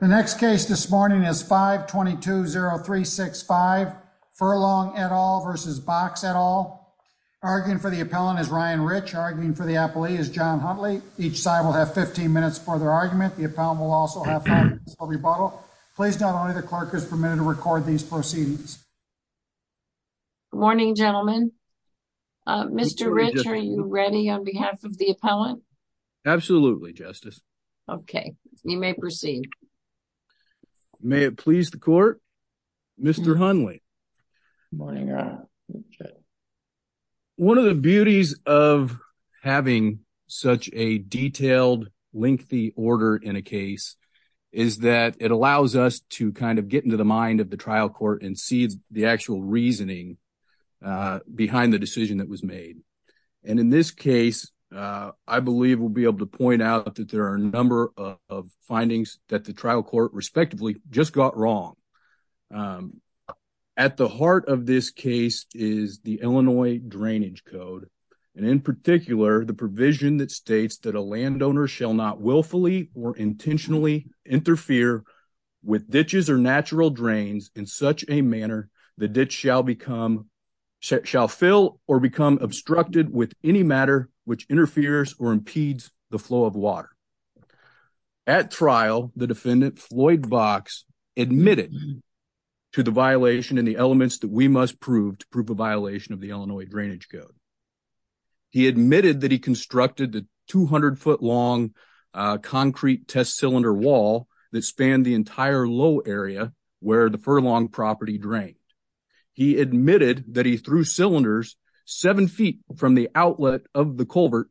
The next case this morning is 5-220-365 Furlong v. Boxx. Arguing for the appellant is Ryan Rich. Arguing for the appellee is John Huntley. Each side will have 15 minutes for their argument. The appellant will also have five minutes for rebuttal. Please note only the clerk is permitted to record these proceedings. Good morning, gentlemen. Mr. Rich, are you ready on behalf of the appellant? Absolutely, Justice. Okay, you may proceed. May it please the court, Mr. Huntley. One of the beauties of having such a detailed, lengthy order in a case is that it allows us to kind of get into the mind of the trial court and see the actual reasoning behind the decision that was made. In this case, I believe we'll be able to point out that there are a number of findings that the trial court respectively just got wrong. At the heart of this case is the Illinois Drainage Code. In particular, the provision that states that a landowner shall not willfully or intentionally interfere with ditches or natural drains in such a manner the ditch shall become shall fill or become obstructed with any matter which interferes or impedes the flow of water. At trial, the defendant, Floyd Vox, admitted to the violation and the elements that we must prove to prove a violation of the Illinois Drainage Code. He admitted that he constructed the 200-foot-long concrete test cylinder wall that spanned the He admitted that he threw cylinders seven feet from the outlet of the culvert.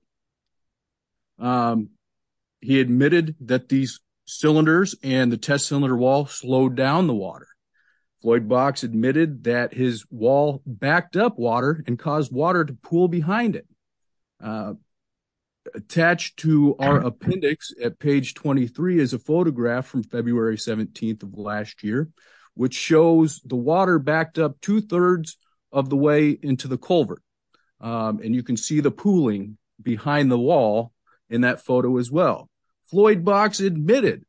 He admitted that these cylinders and the test cylinder wall slowed down the water. Floyd Vox admitted that his wall backed up water and caused water to pool behind it. Attached to our appendix at page 23 is a photograph from February 17th of last year which shows the water backed up two thirds of the way into the culvert. And you can see the pooling behind the wall in that photo as well. Floyd Vox admitted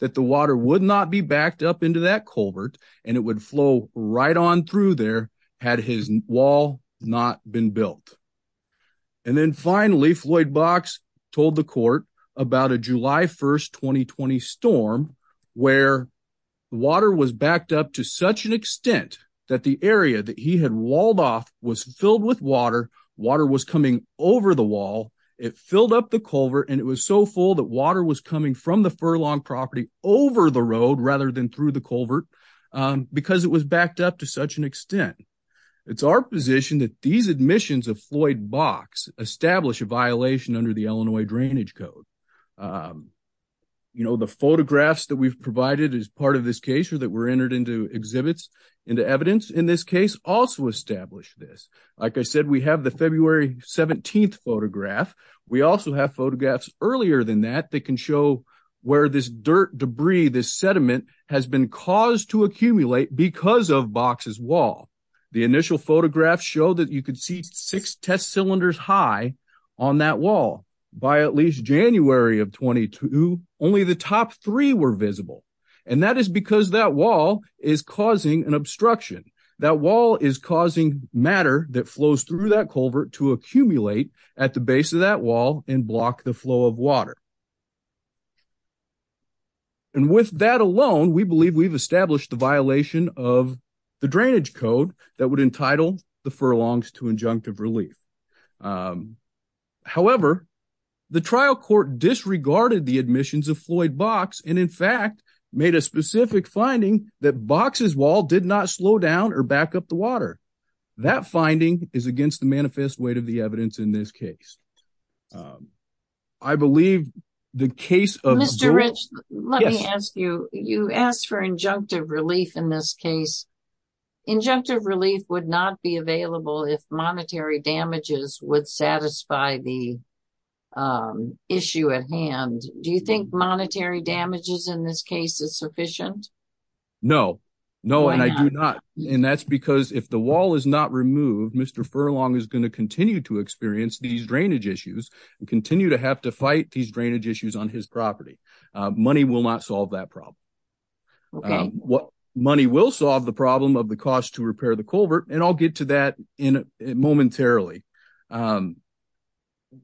that the water would not be backed up into that culvert and it would flow right on through there had his wall not been built. And then finally, Floyd Vox told the jury on July 1st, 2020 storm where water was backed up to such an extent that the area that he had walled off was filled with water. Water was coming over the wall. It filled up the culvert and it was so full that water was coming from the furlong property over the road rather than through the culvert because it was backed up to such an extent. It's our position that these admissions of Floyd Vox establish a violation under the Illinois Drainage Code. You know, the photographs that we've provided as part of this case or that were entered into exhibits into evidence in this case also establish this. Like I said, we have the February 17th photograph. We also have photographs earlier than that that can show where this dirt debris, this sediment has been caused to accumulate because of Vox's wall. The initial photographs show that you could see six test cylinders high on that wall. By at least January of 22, only the top three were visible. And that is because that wall is causing an obstruction. That wall is causing matter that flows through that culvert to accumulate at the base of that wall and block the flow of water. And with that alone, we believe we've established the violation of the drainage code that would entitle the furlongs to injunctive relief. However, the trial court disregarded the admissions of Floyd Vox and in fact made a specific finding that Vox's wall did not slow down or back up the water. That finding is against the manifest weight of the evidence in this case. I believe the case of... Mr. Rich, let me ask you. You asked for injunctive relief in this case. Injunctive relief would not be available if monetary damages would satisfy the issue at hand. Do you think monetary damages in this case is sufficient? No. No, and I do not. And that's because if the wall is not removed, Mr. Furlong is going to continue to experience these drainage issues and continue to have to fight these problems. Money will solve the problem of the cost to repair the culvert, and I'll get to that momentarily.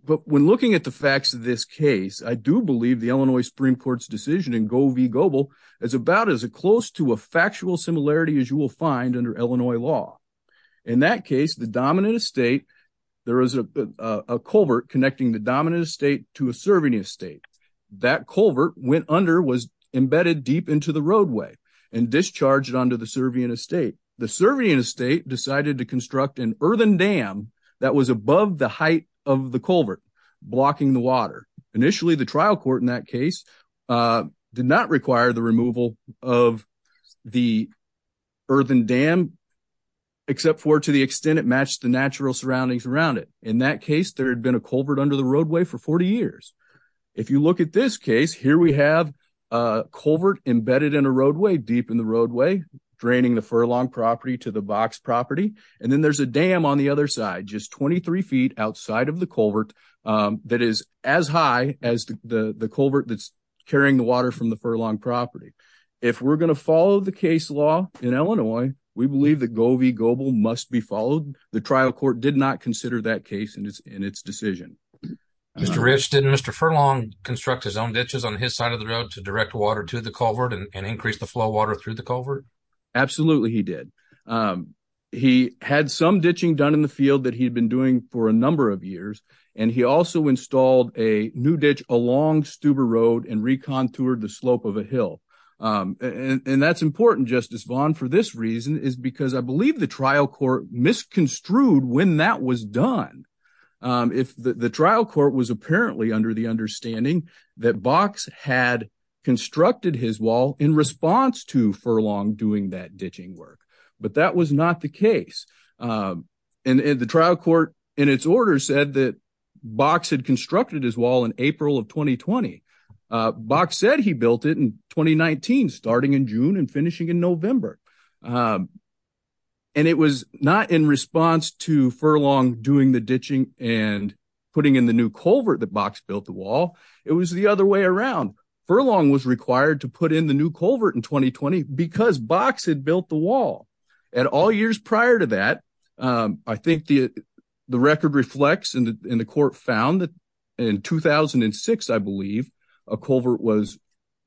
But when looking at the facts of this case, I do believe the Illinois Supreme Court's decision in Go v. Goble is about as close to a factual similarity as you will find under Illinois law. In that case, the dominant estate, there is a culvert connecting the dominant estate to a Servian estate. That culvert went under, was embedded deep into the roadway, and discharged onto the Servian estate. The Servian estate decided to construct an earthen dam that was above the height of the culvert, blocking the water. Initially, the trial court in that case did not require the removal of the earthen dam, except for to the extent it matched the natural surroundings around it. In that case, there had been a culvert under the roadway for 40 years. If you look at this case, here we have a culvert embedded in a roadway, deep in the roadway, draining the Furlong property to the Box property. And then there's a dam on the other side, just 23 feet outside of the culvert that is as high as the culvert that's carrying the water from the Furlong property. If we're going to follow the case law in Illinois, we believe that Go v. Goble must be followed. The trial court did not consider that case in its decision. Mr. Rich, didn't Mr. Furlong construct his own ditches on his side of the road to direct water to the culvert and increase the flow of water through the culvert? Absolutely, he did. He had some ditching done in the field that he'd been doing for a number of years, and he also installed a new ditch along Stuber Road and recontoured the slope of a hill. And that's important, Justice Vaughn, for this reason is because I believe the when that was done. If the trial court was apparently under the understanding that Box had constructed his wall in response to Furlong doing that ditching work, but that was not the case. And the trial court in its order said that Box had constructed his wall in April of 2020. Box said he built it in 2019, starting in June and finishing in November. And it was not in response to Furlong doing the ditching and putting in the new culvert that Box built the wall. It was the other way around. Furlong was required to put in the new culvert in 2020 because Box had built the wall. And all years prior to that, I think the record reflects and the court found that in 2006, I believe, a culvert was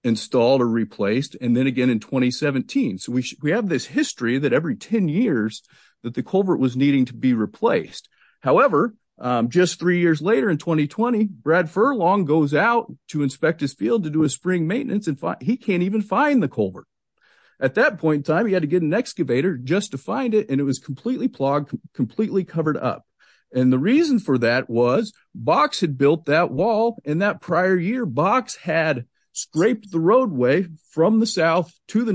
installed or replaced. And then again in 2017. So we have this history that every 10 years that the culvert was needing to be replaced. However, just three years later in 2020, Brad Furlong goes out to inspect his field to do a spring maintenance and he can't even find the culvert. At that point in time, he had to get an excavator just to find it. And it was completely clogged, completely covered up. And the reason for that was Box had built that wall in that prior year. Box had scraped the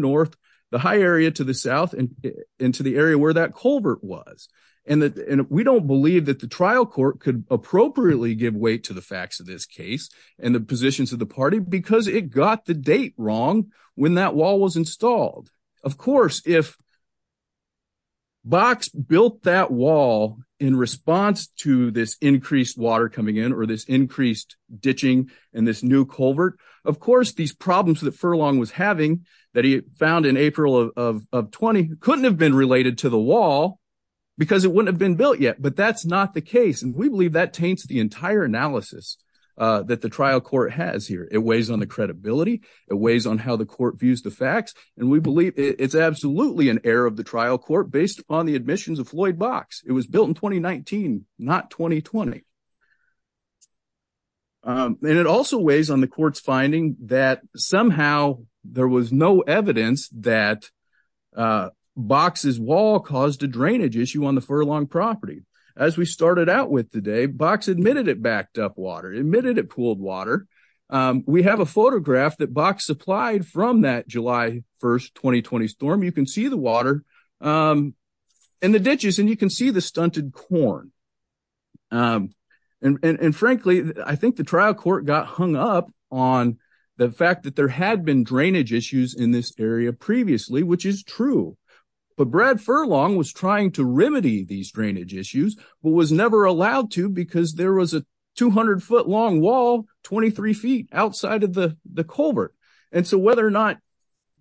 north, the high area to the south and into the area where that culvert was. And we don't believe that the trial court could appropriately give weight to the facts of this case and the positions of the party because it got the date wrong when that wall was installed. Of course, if Box built that wall in response to this increased water coming in or this increased found in April of 20 couldn't have been related to the wall because it wouldn't have been built yet. But that's not the case. And we believe that taints the entire analysis that the trial court has here. It weighs on the credibility. It weighs on how the court views the facts. And we believe it's absolutely an error of the trial court based on the admissions of Floyd Box. It was built in 2019, not 2020. And it also weighs on the court's finding that somehow there was no evidence that Box's wall caused a drainage issue on the Furlong property. As we started out with today, Box admitted it backed up water, admitted it pooled water. We have a photograph that Box supplied from that July 1st, 2020 storm. You can see the water in the ditches and you can see the stunted corn. And frankly, I think the trial court got hung up on the fact that there had been drainage issues in this area previously, which is true. But Brad Furlong was trying to remedy these drainage issues, but was never allowed to because there was a 200 foot long wall, 23 feet outside of the culvert. And so whether or not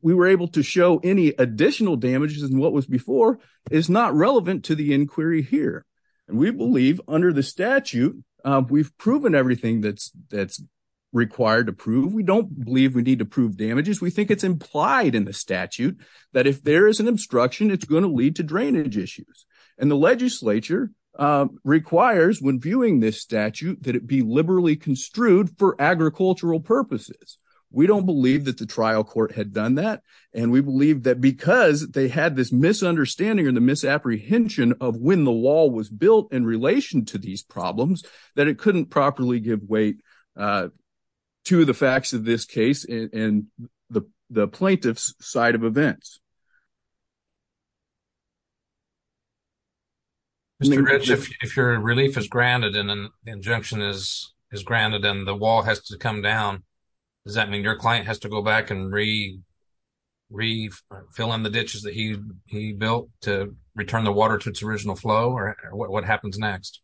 we were able to show any additional damages than what was before is not relevant to the inquiry here. And we believe under the statute, we've proven everything that's required to prove. We don't believe we need to prove damages. We think it's implied in the statute that if there is an obstruction, it's going to lead to drainage issues. And the legislature requires when viewing this statute, that it be liberally construed for agricultural purposes. We don't believe that the trial court had done that. And we believe that because they had this misunderstanding or the apprehension of when the wall was built in relation to these problems, that it couldn't properly give weight to the facts of this case and the plaintiff's side of events. Mr. Rich, if your relief is granted and an injunction is granted and the wall has to come down, does that mean your client has to go back and refill in the ditches that he built to return the water to its original flow? Or what happens next?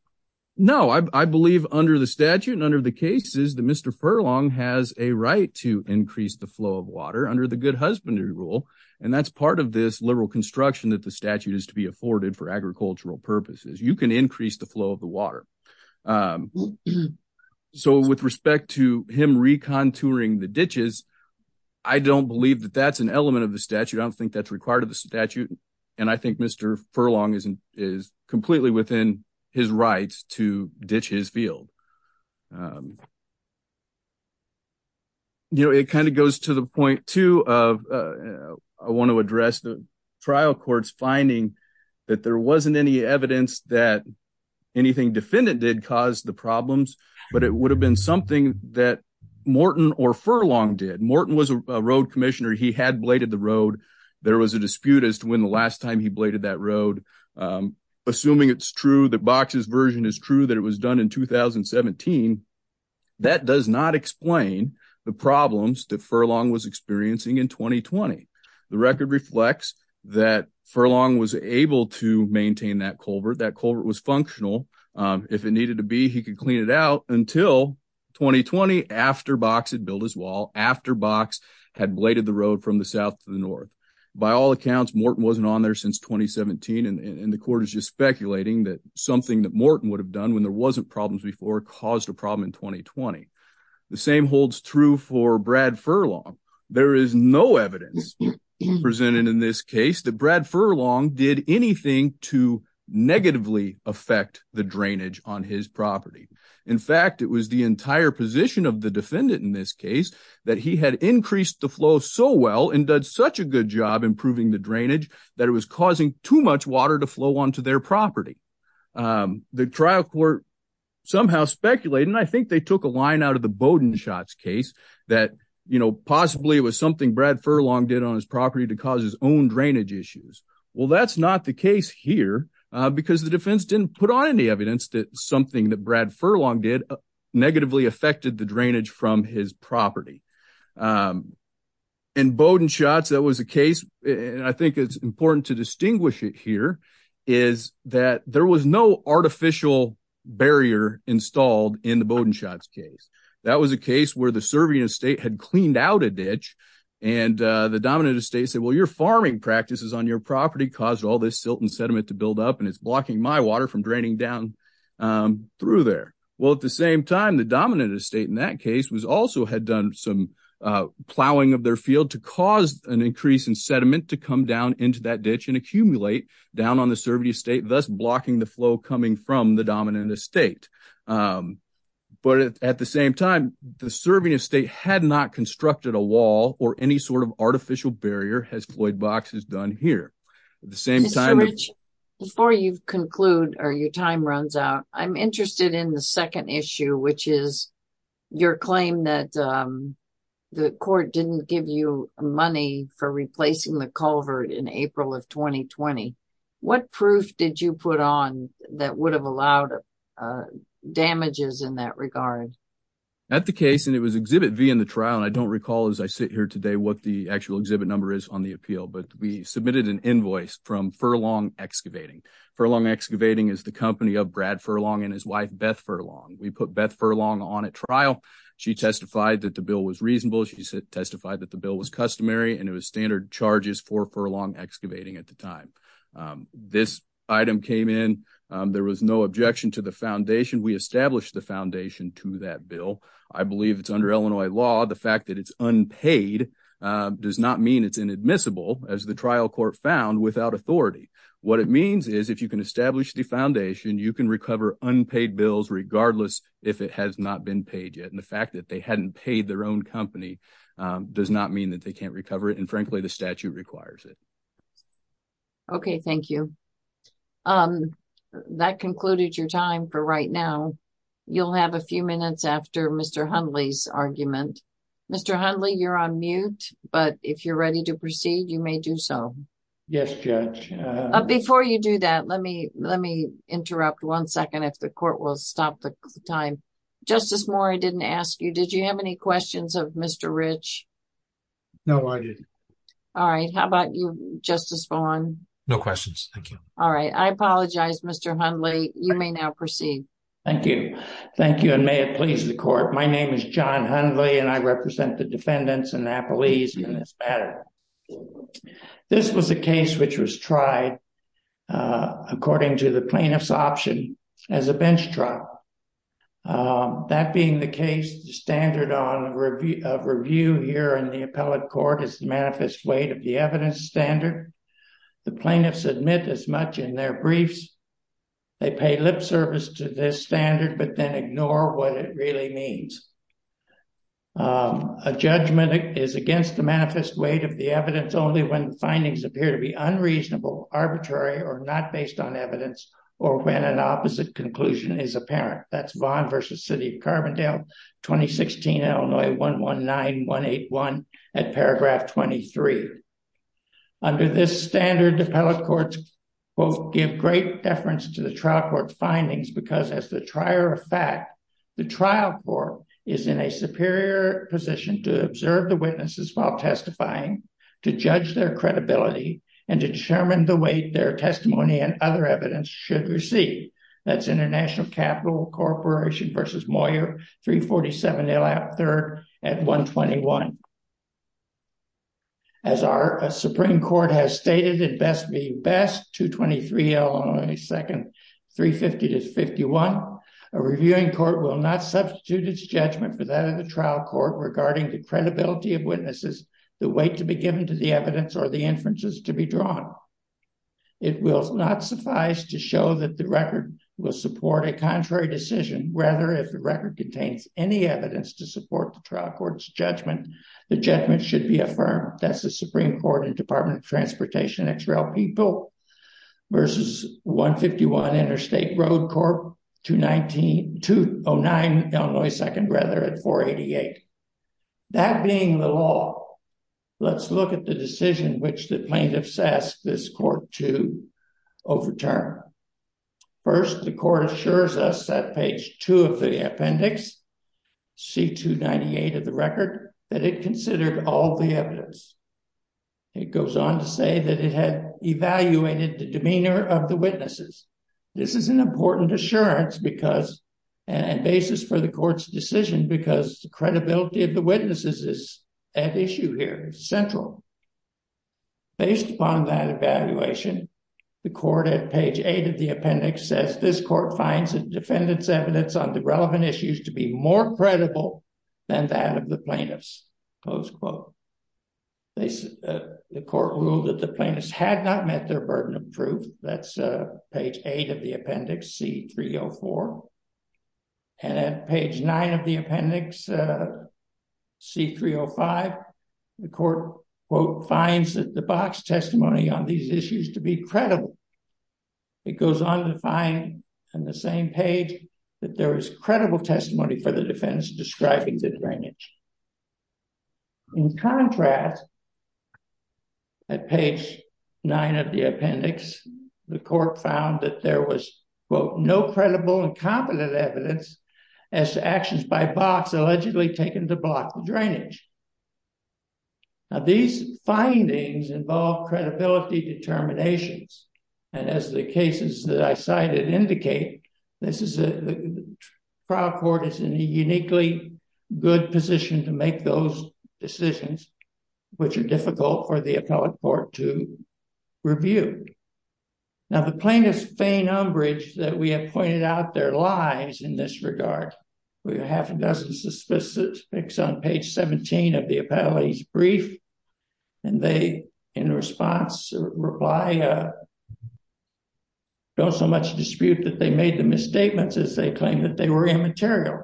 No, I believe under the statute and under the cases that Mr. Furlong has a right to increase the flow of water under the good husbandry rule. And that's part of this liberal construction that the statute is to be afforded for agricultural purposes. You can increase the flow of the water. So with respect to him recontouring the ditches, I don't believe that that's an element of the statute. I don't think that's required of the statute. And I think Mr. Furlong is completely within his rights to ditch his field. You know, it kind of goes to the point, too, of I want to address the trial court's finding that there wasn't any evidence that anything defendant did cause the problems, but it would have been something that Morton or Furlong did. Morton was a road commissioner. He had bladed the road. There was a dispute as to when the last time he bladed that road. Assuming it's true that Box's version is true that it was done in 2017, that does not explain the problems that Furlong was experiencing in 2020. The record reflects that Furlong was able to maintain that culvert. That culvert was functional. If it needed to be, he could clean it out until 2020 after Box had built his road from the south to the north. By all accounts, Morton wasn't on there since 2017, and the court is just speculating that something that Morton would have done when there wasn't problems before caused a problem in 2020. The same holds true for Brad Furlong. There is no evidence presented in this case that Brad Furlong did anything to negatively affect the drainage on his property. In fact, it was the entire position of the defendant in this case that he had increased the flow so well and did such a good job improving the drainage that it was causing too much water to flow onto their property. The trial court somehow speculated, and I think they took a line out of the Bowdoin shots case, that possibly it was something Brad Furlong did on his property to cause his own drainage issues. Well, that's not the case here because the defense didn't put on any evidence that something that Brad Furlong did negatively affected the drainage from his property. In Bowdoin shots, that was a case, and I think it's important to distinguish it here, is that there was no artificial barrier installed in the Bowdoin shots case. That was a case where the serving estate had cleaned out a ditch, and the dominant estate said, well, your farming practices on your property caused all this silt and sediment to build up, and it's blocking my water from draining down through there. Well, at the same time, the dominant estate in that case also had done some plowing of their field to cause an increase in sediment to come down into that ditch and accumulate down on the serving estate, thus blocking the flow coming from the dominant estate. But at the same time, the serving estate had not constructed a wall or any sort of artificial barrier as Floyd Box has done here. At the same time... Mr. Rich, before you conclude or your time runs out, I'm interested in the second issue, which is your claim that the court didn't give you money for replacing the culvert in April of 2020. What proof did you put on that would have allowed damages in that regard? At the case, and it was Exhibit V in the trial, and I don't recall as I sit here today what the actual exhibit number is on the appeal, but we submitted an invoice from Furlong Excavating. Furlong Excavating is the company of Brad Furlong and his wife Beth Furlong. We put Beth Furlong on at trial. She testified that the bill was reasonable. She testified that the bill was customary and it was standard charges for Furlong Excavating at the time. This item came in. There was no objection to the foundation. We established the foundation to that bill. I believe it's under Illinois law. The fact that it's unpaid does not mean it's admissible as the trial court found without authority. What it means is if you can establish the foundation, you can recover unpaid bills regardless if it has not been paid yet. The fact that they hadn't paid their own company does not mean that they can't recover it. Frankly, the statute requires it. Okay. Thank you. That concluded your time for right now. You'll have a few minutes after Mr. Hundley's argument. Mr. Hundley, you're on mute, but if you're ready to proceed, you may do so. Yes, Judge. Before you do that, let me interrupt one second if the court will stop the time. Justice Moore, I didn't ask you. Did you have any questions of Mr. Rich? No, I didn't. All right. How about you, Justice Vaughn? No questions. Thank you. All right. I apologize, Mr. Hundley. You may now proceed. Thank you. Thank you and may it please the court. My name is John Hundley and I represent the Court of Appeals in this matter. This was a case which was tried according to the plaintiff's option as a bench trial. That being the case, the standard of review here in the appellate court is the manifest weight of the evidence standard. The plaintiffs admit as much in their briefs. They pay lip service to this standard but then ignore what it really means. A judgment is against the manifest weight of the evidence only when findings appear to be unreasonable, arbitrary, or not based on evidence or when an opposite conclusion is apparent. That's Vaughn versus City of Carbondale, 2016, Illinois 119181 at paragraph 23. Under this standard, appellate courts both give great deference to the trial court findings because as the trier of fact, the trial court is in a superior position to observe the witnesses while testifying, to judge their credibility, and to determine the weight their testimony and other evidence should receive. That's International Capital Corporation versus Moyer, 347 L. App III at 121. As our Supreme Court has stated, it best be best, 223 Illinois second 350 to 51, a reviewing court will not substitute its judgment for that of the trial court regarding the credibility of witnesses, the weight to be given to the evidence, or the inferences to be drawn. It will not suffice to show that the record will support a contrary decision. Rather, if the record contains any evidence to support the trial court's judgment, the judgment should be affirmed. That's the Supreme Court and Department of Transportation XRL People versus 151 Interstate Road Corp, 209 Illinois second rather at 488. That being the law, let's look at the decision which the plaintiffs asked this court to overturn. First, the court assures us that page two of the appendix, C. 298 of the record, that it considered all the evidence. It goes on to say that it had evaluated the demeanor of the witnesses. This is an important assurance because, and basis for the court's decision because the credibility of the witnesses is at issue here, central. Based upon that evaluation, the court at page eight of the appendix says this court finds the defendant's evidence on the relevant issues to be more credible than that of the plaintiffs, close quote. The court ruled that the plaintiffs had not met their burden of proof. That's page eight of the appendix, C. 304. At page nine of the appendix, C. 305, the court finds that the box testimony on these issues to be credible. It goes on to find on the same page that there is credible testimony for the defense describing the drainage. In contrast, at page nine of the appendix, the court found that there was, quote, no credible and competent evidence as to actions by box allegedly taken to block the drainage. Now, these findings involve credibility determinations, and as the cases that I cited indicate, this is a, the trial court is in a uniquely good position to make those decisions, which are difficult for the appellate court to review. Now, the plaintiffs' faint umbrage that we have pointed out their lies in this regard, we have a dozen specifics on page 17 of the appellate's brief, and they, in response, reply, don't so much dispute that they made the misstatements as they claim that they were immaterial.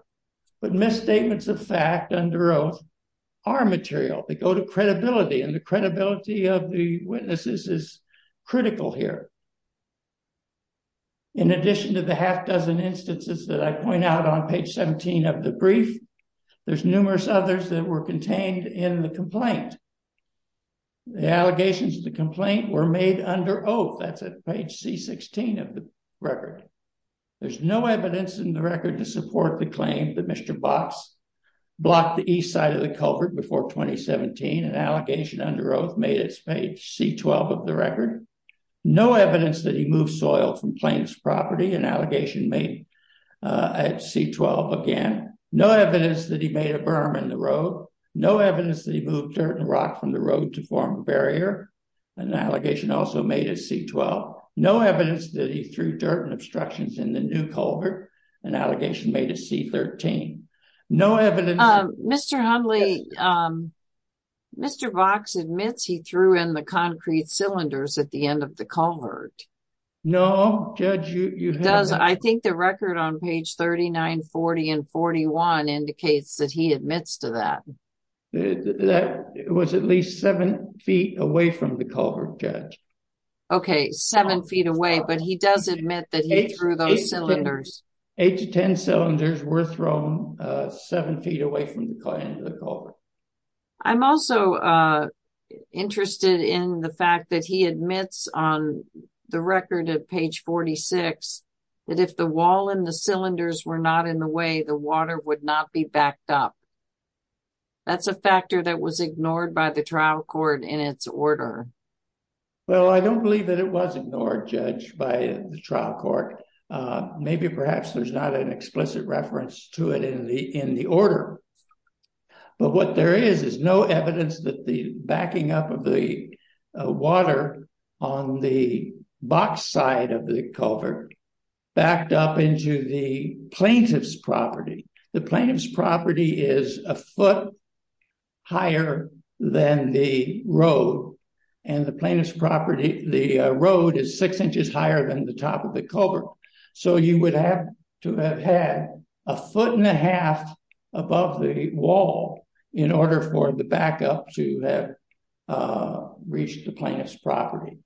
But misstatements of fact under oath are material. They go to credibility, and the credibility of the witnesses is critical here. In addition to the half-dozen instances that I point out on page 17 of the brief, there's numerous others that were contained in the complaint. The allegations of the complaint were made under oath. That's at page C-16 of the record. There's no evidence in the record to support the claim that Mr. Box blocked the east side of the culvert before 2017, and allegation under oath made its page C-12 of the record. No evidence that he moved soil from plaintiff's property, an allegation made at C-12 again. No evidence that he made a berm in the road. No evidence that he moved dirt and rock from the road to form a barrier, an allegation also made at C-12. No evidence that he threw dirt and obstructions in the new culvert, an allegation made at C-13. No evidence... Mr. Hundley, Mr. Box admits he threw in the concrete cylinders at the end of the culvert. No, Judge, you have... Does... I think the record on page 39, 40, and 41 indicates that he admits to that. That was at least seven feet away from the culvert, Judge. Okay, seven feet away, but he does admit that he threw those cylinders. Eight to ten cylinders were thrown seven feet away from the end of the culvert. I'm also interested in the fact that he admits on the record at page 46 that if the wall and the cylinders were not in the way, the water would not be backed up. That's a factor that was ignored by the trial court in its order. Well, I don't believe that it was ignored, Judge, by the trial court. Maybe perhaps there's not an explicit reference to it in the order, but what there is is no evidence that the backing up of the water on the box side of the culvert backed up into the plaintiff's property. The plaintiff's property is a foot higher than the road, and the plaintiff's property... the road is six inches higher than the top of the culvert, so you would have to have had a foot and a half above the wall in order for the backup to have reached the plaintiff's property.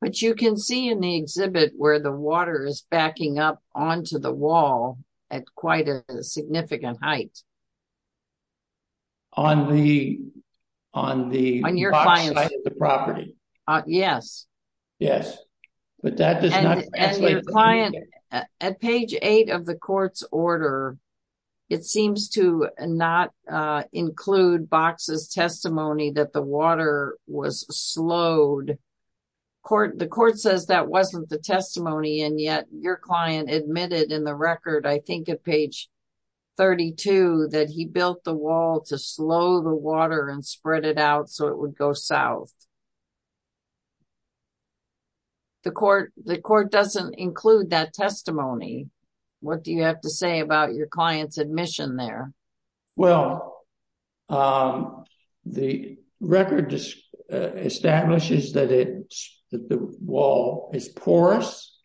But you can see in the exhibit where the water is backing up the property. Yes, but that does not... And your client, at page eight of the court's order, it seems to not include Box's testimony that the water was slowed. The court says that wasn't the testimony, and yet your client admitted in the record, I think at page 32, that he built the water and spread it out so it would go south. The court doesn't include that testimony. What do you have to say about your client's admission there? Well, the record just establishes that the wall is porous,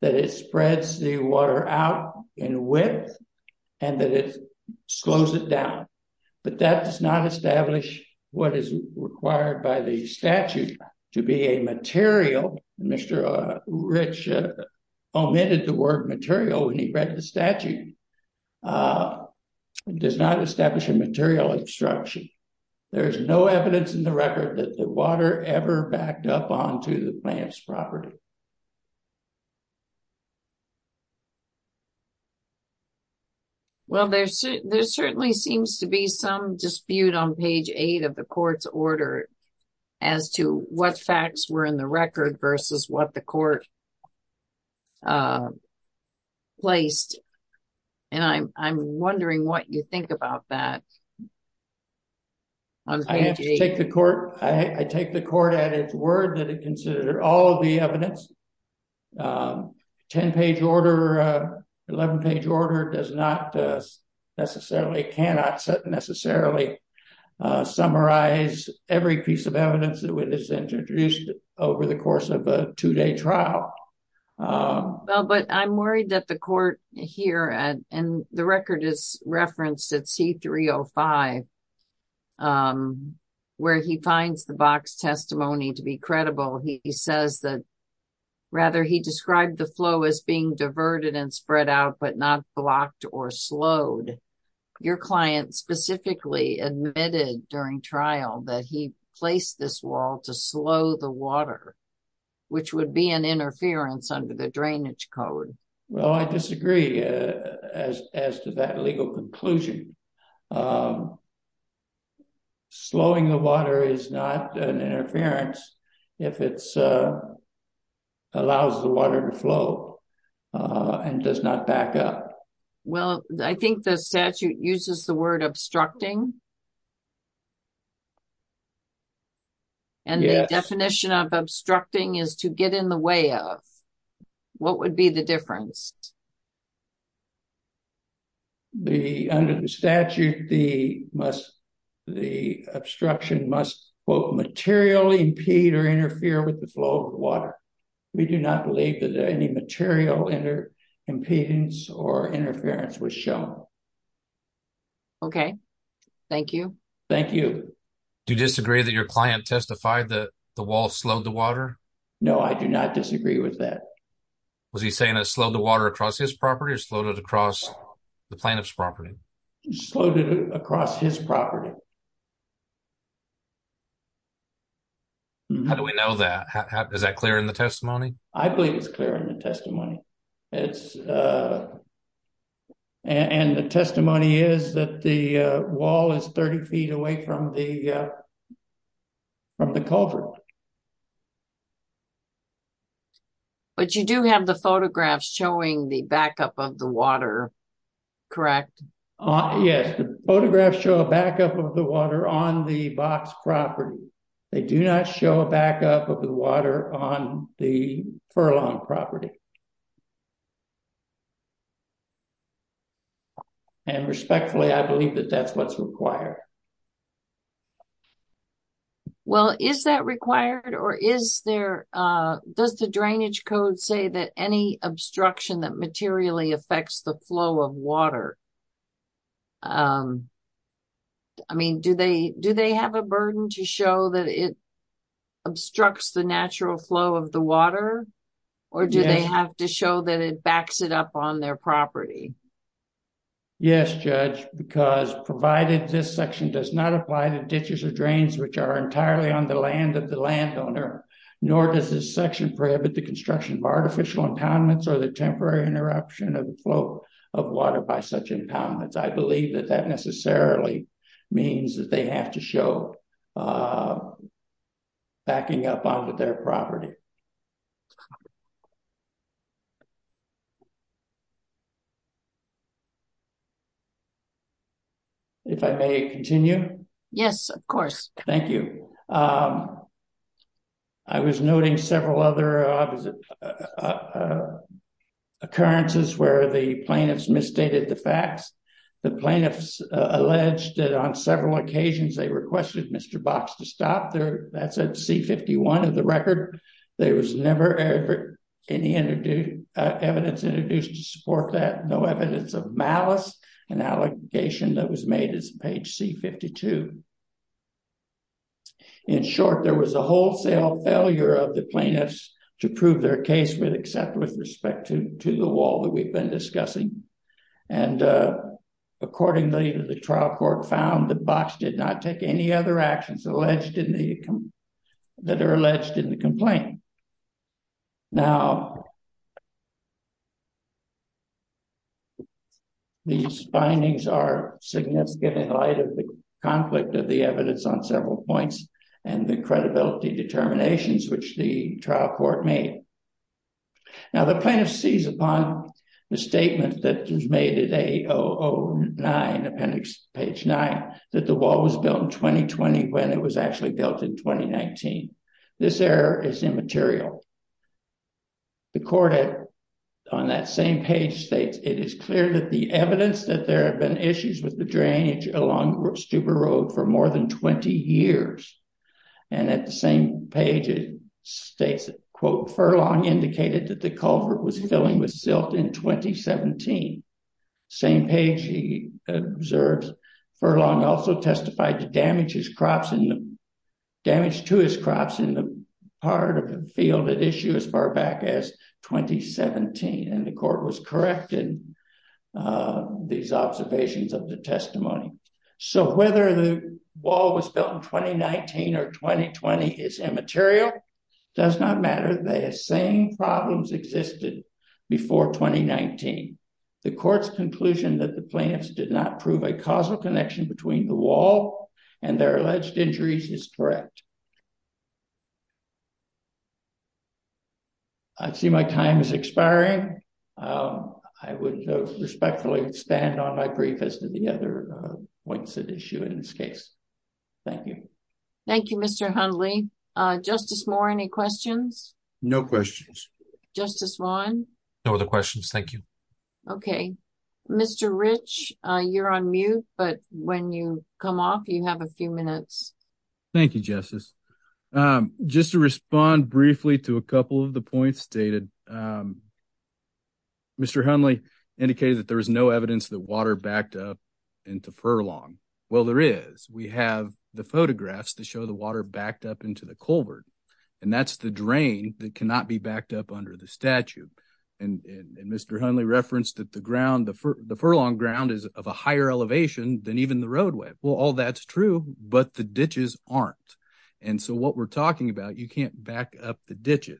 that it spreads the water out in width, and that it does not establish what is required by the statute to be a material. Mr. Rich omitted the word material when he read the statute. It does not establish a material obstruction. There is no evidence in the record that the water ever backed up onto the plaintiff's property. Well, there certainly seems to be some dispute on page eight of the court's order as to what facts were in the record versus what the court placed. And I'm wondering what you think about that. I have to take the court, I take the court at its word that it considered all the evidence. 10-page order, 11-page order does not necessarily, cannot necessarily summarize every piece of evidence that was introduced over the course of a two-day trial. Oh, well, but I'm worried that the court here, and the record is referenced at C-305, where he finds the box testimony to be credible. He says that, rather, he described the flow as being diverted and spread out, but not blocked or slowed. Your client specifically admitted during trial that he placed this wall to slow the water, which would be an interference under the drainage code. Well, I disagree as to that legal conclusion. Slowing the water is not an interference if it allows the water to flow and does not back up. Well, I think the statute uses the word obstructing. And the definition of obstructing is to get in the way of. What would be the difference? Under the statute, the obstruction must, quote, materially impede or interfere with the flow of interference was shown. Okay, thank you. Thank you. Do you disagree that your client testified that the wall slowed the water? No, I do not disagree with that. Was he saying it slowed the water across his property or slowed it across the plaintiff's property? Slowed it across his property. How do we know that? Is that clear in the testimony? I believe it's clear in the and the testimony is that the wall is 30 feet away from the from the culvert. But you do have the photographs showing the backup of the water, correct? Yes, the photographs show a backup of the water on the box property. They do not show a backup of the water on the furlong property. And respectfully, I believe that that's what's required. Well, is that required or is there, does the drainage code say that any obstruction that materially affects the flow of water? I mean, do they have a burden to show that it obstructs the natural flow of the water or do they have to show that it backs it up on their property? Yes, Judge, because provided this section does not apply to ditches or drains which are entirely on the land of the landowner, nor does this section prohibit the construction of artificial impoundments or the temporary interruption of the flow of water by such impoundments. I believe that that necessarily means that they have to show backing up onto their property. If I may continue? Yes, of course. Thank you. I was noting several other occurrences where the plaintiffs misstated the facts. The plaintiffs alleged that on several there was never any evidence introduced to support that, no evidence of malice, an allegation that was made as page C-52. In short, there was a wholesale failure of the plaintiffs to prove their case except with respect to the wall that we've been discussing. And accordingly, the trial court found that Box did not take any other actions that are alleged in the complaint. Now, these findings are significant in light of the conflict of the evidence on several points and the credibility determinations which the trial court made. Now, the plaintiff sees upon the statement that was made at A-009, appendix page 9, that the wall was built in 2020 when it was actually built in 2019. This error is immaterial. The court on that same page states, it is clear that the evidence that there have been issues with the drainage along Stuber Road for more than 20 years, and at the same page it states, quote, furlong indicated that the culvert was filling with silt in 2017. Same page he observes, furlong also testified to damage to his crops in the part of the field at issue as far back as 2017, and the court was corrected these observations of the testimony. So, whether the wall was built in 2019 or 2020 is immaterial, does not matter. The same problems existed before 2019. The court's conclusion that the plaintiffs did not prove a causal connection between the wall and their alleged injuries is correct. I see my time is expiring. I would respectfully stand on my brief as to the other points at issue in this case. Thank you. Thank you, Mr. Hundley. Justice Moore, any questions? No questions. Justice Vaughn? No other questions, thank you. Okay, Mr. Rich, you're on mute, but when you come off, you have a few minutes. Thank you, Justice. Just to respond briefly to a couple of the points stated, Mr. Hundley indicated that there was no evidence that water backed up into furlong. Well, there is. We have the photographs that show the water backed up into the culvert, and that's the drain that cannot be backed up under the statue. And Mr. Hundley referenced that the furlong ground is of a higher elevation than even the roadway. Well, all that's true, but the ditches aren't. And so, what we're talking about, you can't back up the a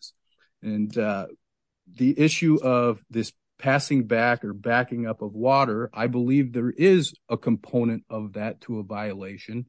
component of that to a violation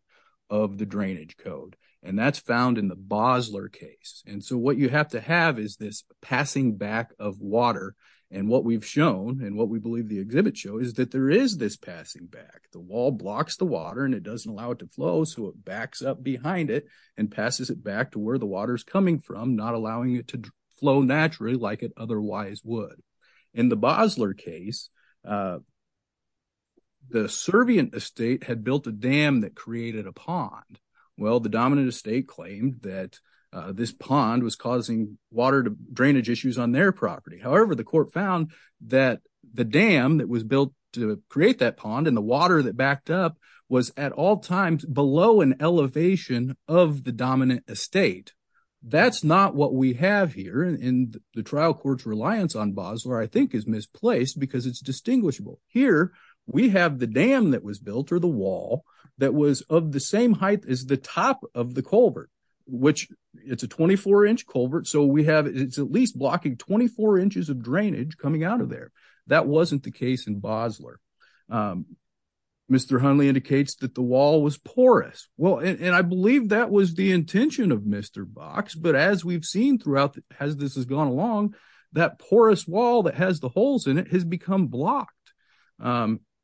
of the drainage code. And that's found in the Bosler case. And so, what you have to have is this passing back of water. And what we've shown, and what we believe the exhibits show, is that there is this passing back. The wall blocks the water, and it doesn't allow it to flow, so it backs up behind it and passes it back to where the water is coming from, not allowing it to flow naturally like it otherwise would. In the Bosler case, the servient estate had built a dam that created a pond. Well, the dominant estate claimed that this pond was causing water drainage issues on their property. However, the court found that the dam that was built to create that pond and the water that backed up was at all times below an elevation of the dominant estate. That's not what we have here, and the trial court's reliance on Bosler, I think, is misplaced because it's distinguishable. Here, we have the dam that was built, or the wall, that was of the same height as the top of the culvert, which it's a 24-inch culvert, so it's at least blocking 24 inches of drainage coming out of the dam. The next slide indicates that the wall was porous. Well, and I believe that was the intention of Mr. Box, but as we've seen throughout as this has gone along, that porous wall that has the holes in it has become blocked.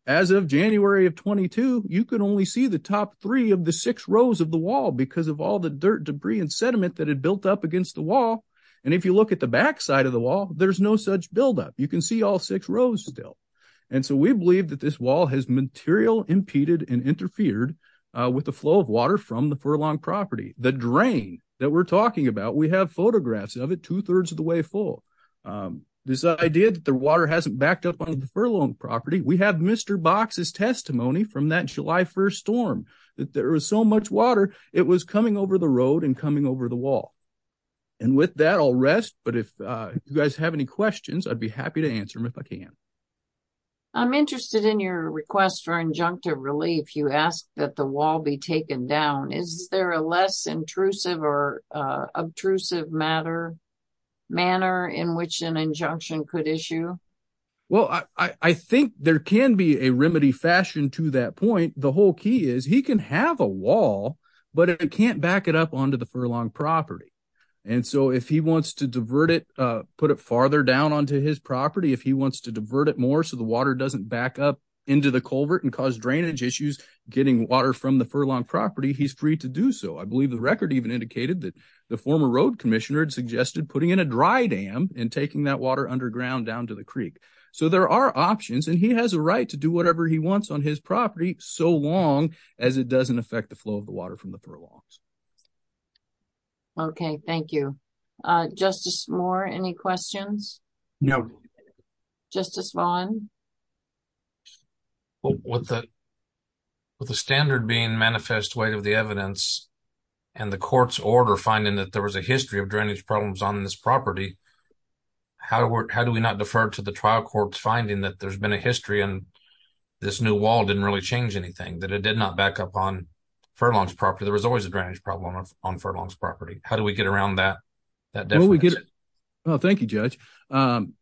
As of January of 22, you could only see the top three of the six rows of the wall because of all the dirt, debris, and sediment that had built up against the wall, and if you look at the back side of the wall, there's no such buildup. You can see all six interfered with the flow of water from the Furlong property. The drain that we're talking about, we have photographs of it two-thirds of the way full. This idea that the water hasn't backed up onto the Furlong property, we have Mr. Box's testimony from that July 1st storm, that there was so much water, it was coming over the road and coming over the wall. And with that, I'll rest, but if you guys have any questions, I'd be happy to answer them if I can. I'm interested in your request for injunctive relief. You asked that the wall be taken down. Is there a less intrusive or obtrusive manner in which an injunction could issue? Well, I think there can be a remedy fashion to that point. The whole key is he can have a wall, but if he can't back it up onto the Furlong property, and so if he wants to divert it, put it farther down onto his property, if he wants to divert it more so the water doesn't back up into the culvert and cause drainage issues, getting water from the Furlong property, he's free to do so. I believe the record even indicated that the former road commissioner suggested putting in a dry dam and taking that water underground down to the creek. So there are options, and he has a right to do whatever he wants on his property so long as it doesn't affect the flow of the water from the Furlongs. Okay, thank you. Justice Moore, any questions? No. Justice Vaughn? With the standard being manifest weight of the evidence and the court's order finding that there was a history of drainage problems on this property, how do we not defer to the trial court's finding that there's been a history and this new wall didn't really change anything, that it did not back up on Furlong's property? There was always a drainage problem on Furlong's property. How do we get around that? Thank you, Judge.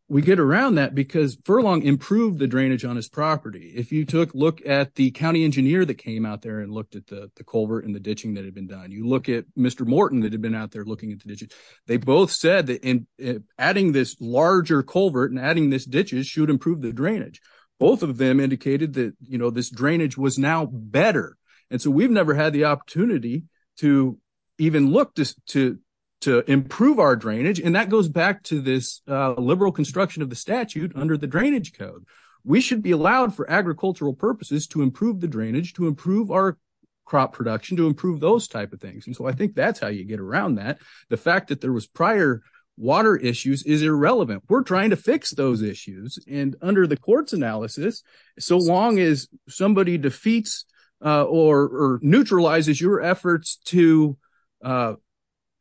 We get around that because Furlong improved the drainage on his property. If you took a look at the county engineer that came out there and looked at the culvert and the ditching that had been done, you look at Mr. Morton that had been out there looking at the ditches, they both said that adding this larger culvert and adding these ditches should improve drainage. Both of them indicated that this drainage was now better. We've never had the opportunity to even look to improve our drainage. That goes back to this liberal construction of the statute under the drainage code. We should be allowed for agricultural purposes to improve the drainage, to improve our crop production, to improve those types of things. I think that's how you get around that. The fact that there was prior water issues is irrelevant. We're trying to fix those issues. Under the court's analysis, so long as somebody defeats or neutralizes your efforts to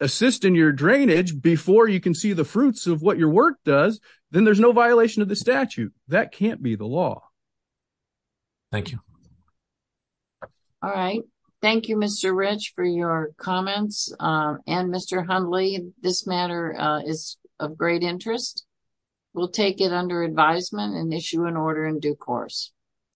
assist in your drainage before you can see the fruits of what your work does, then there's no violation of the statute. That can't be the law. Thank you. All right. Thank you, Mr. Rich, for your comments. Mr. Hundley, this matter is of great interest. We'll take it under advisement and issue an order in due course.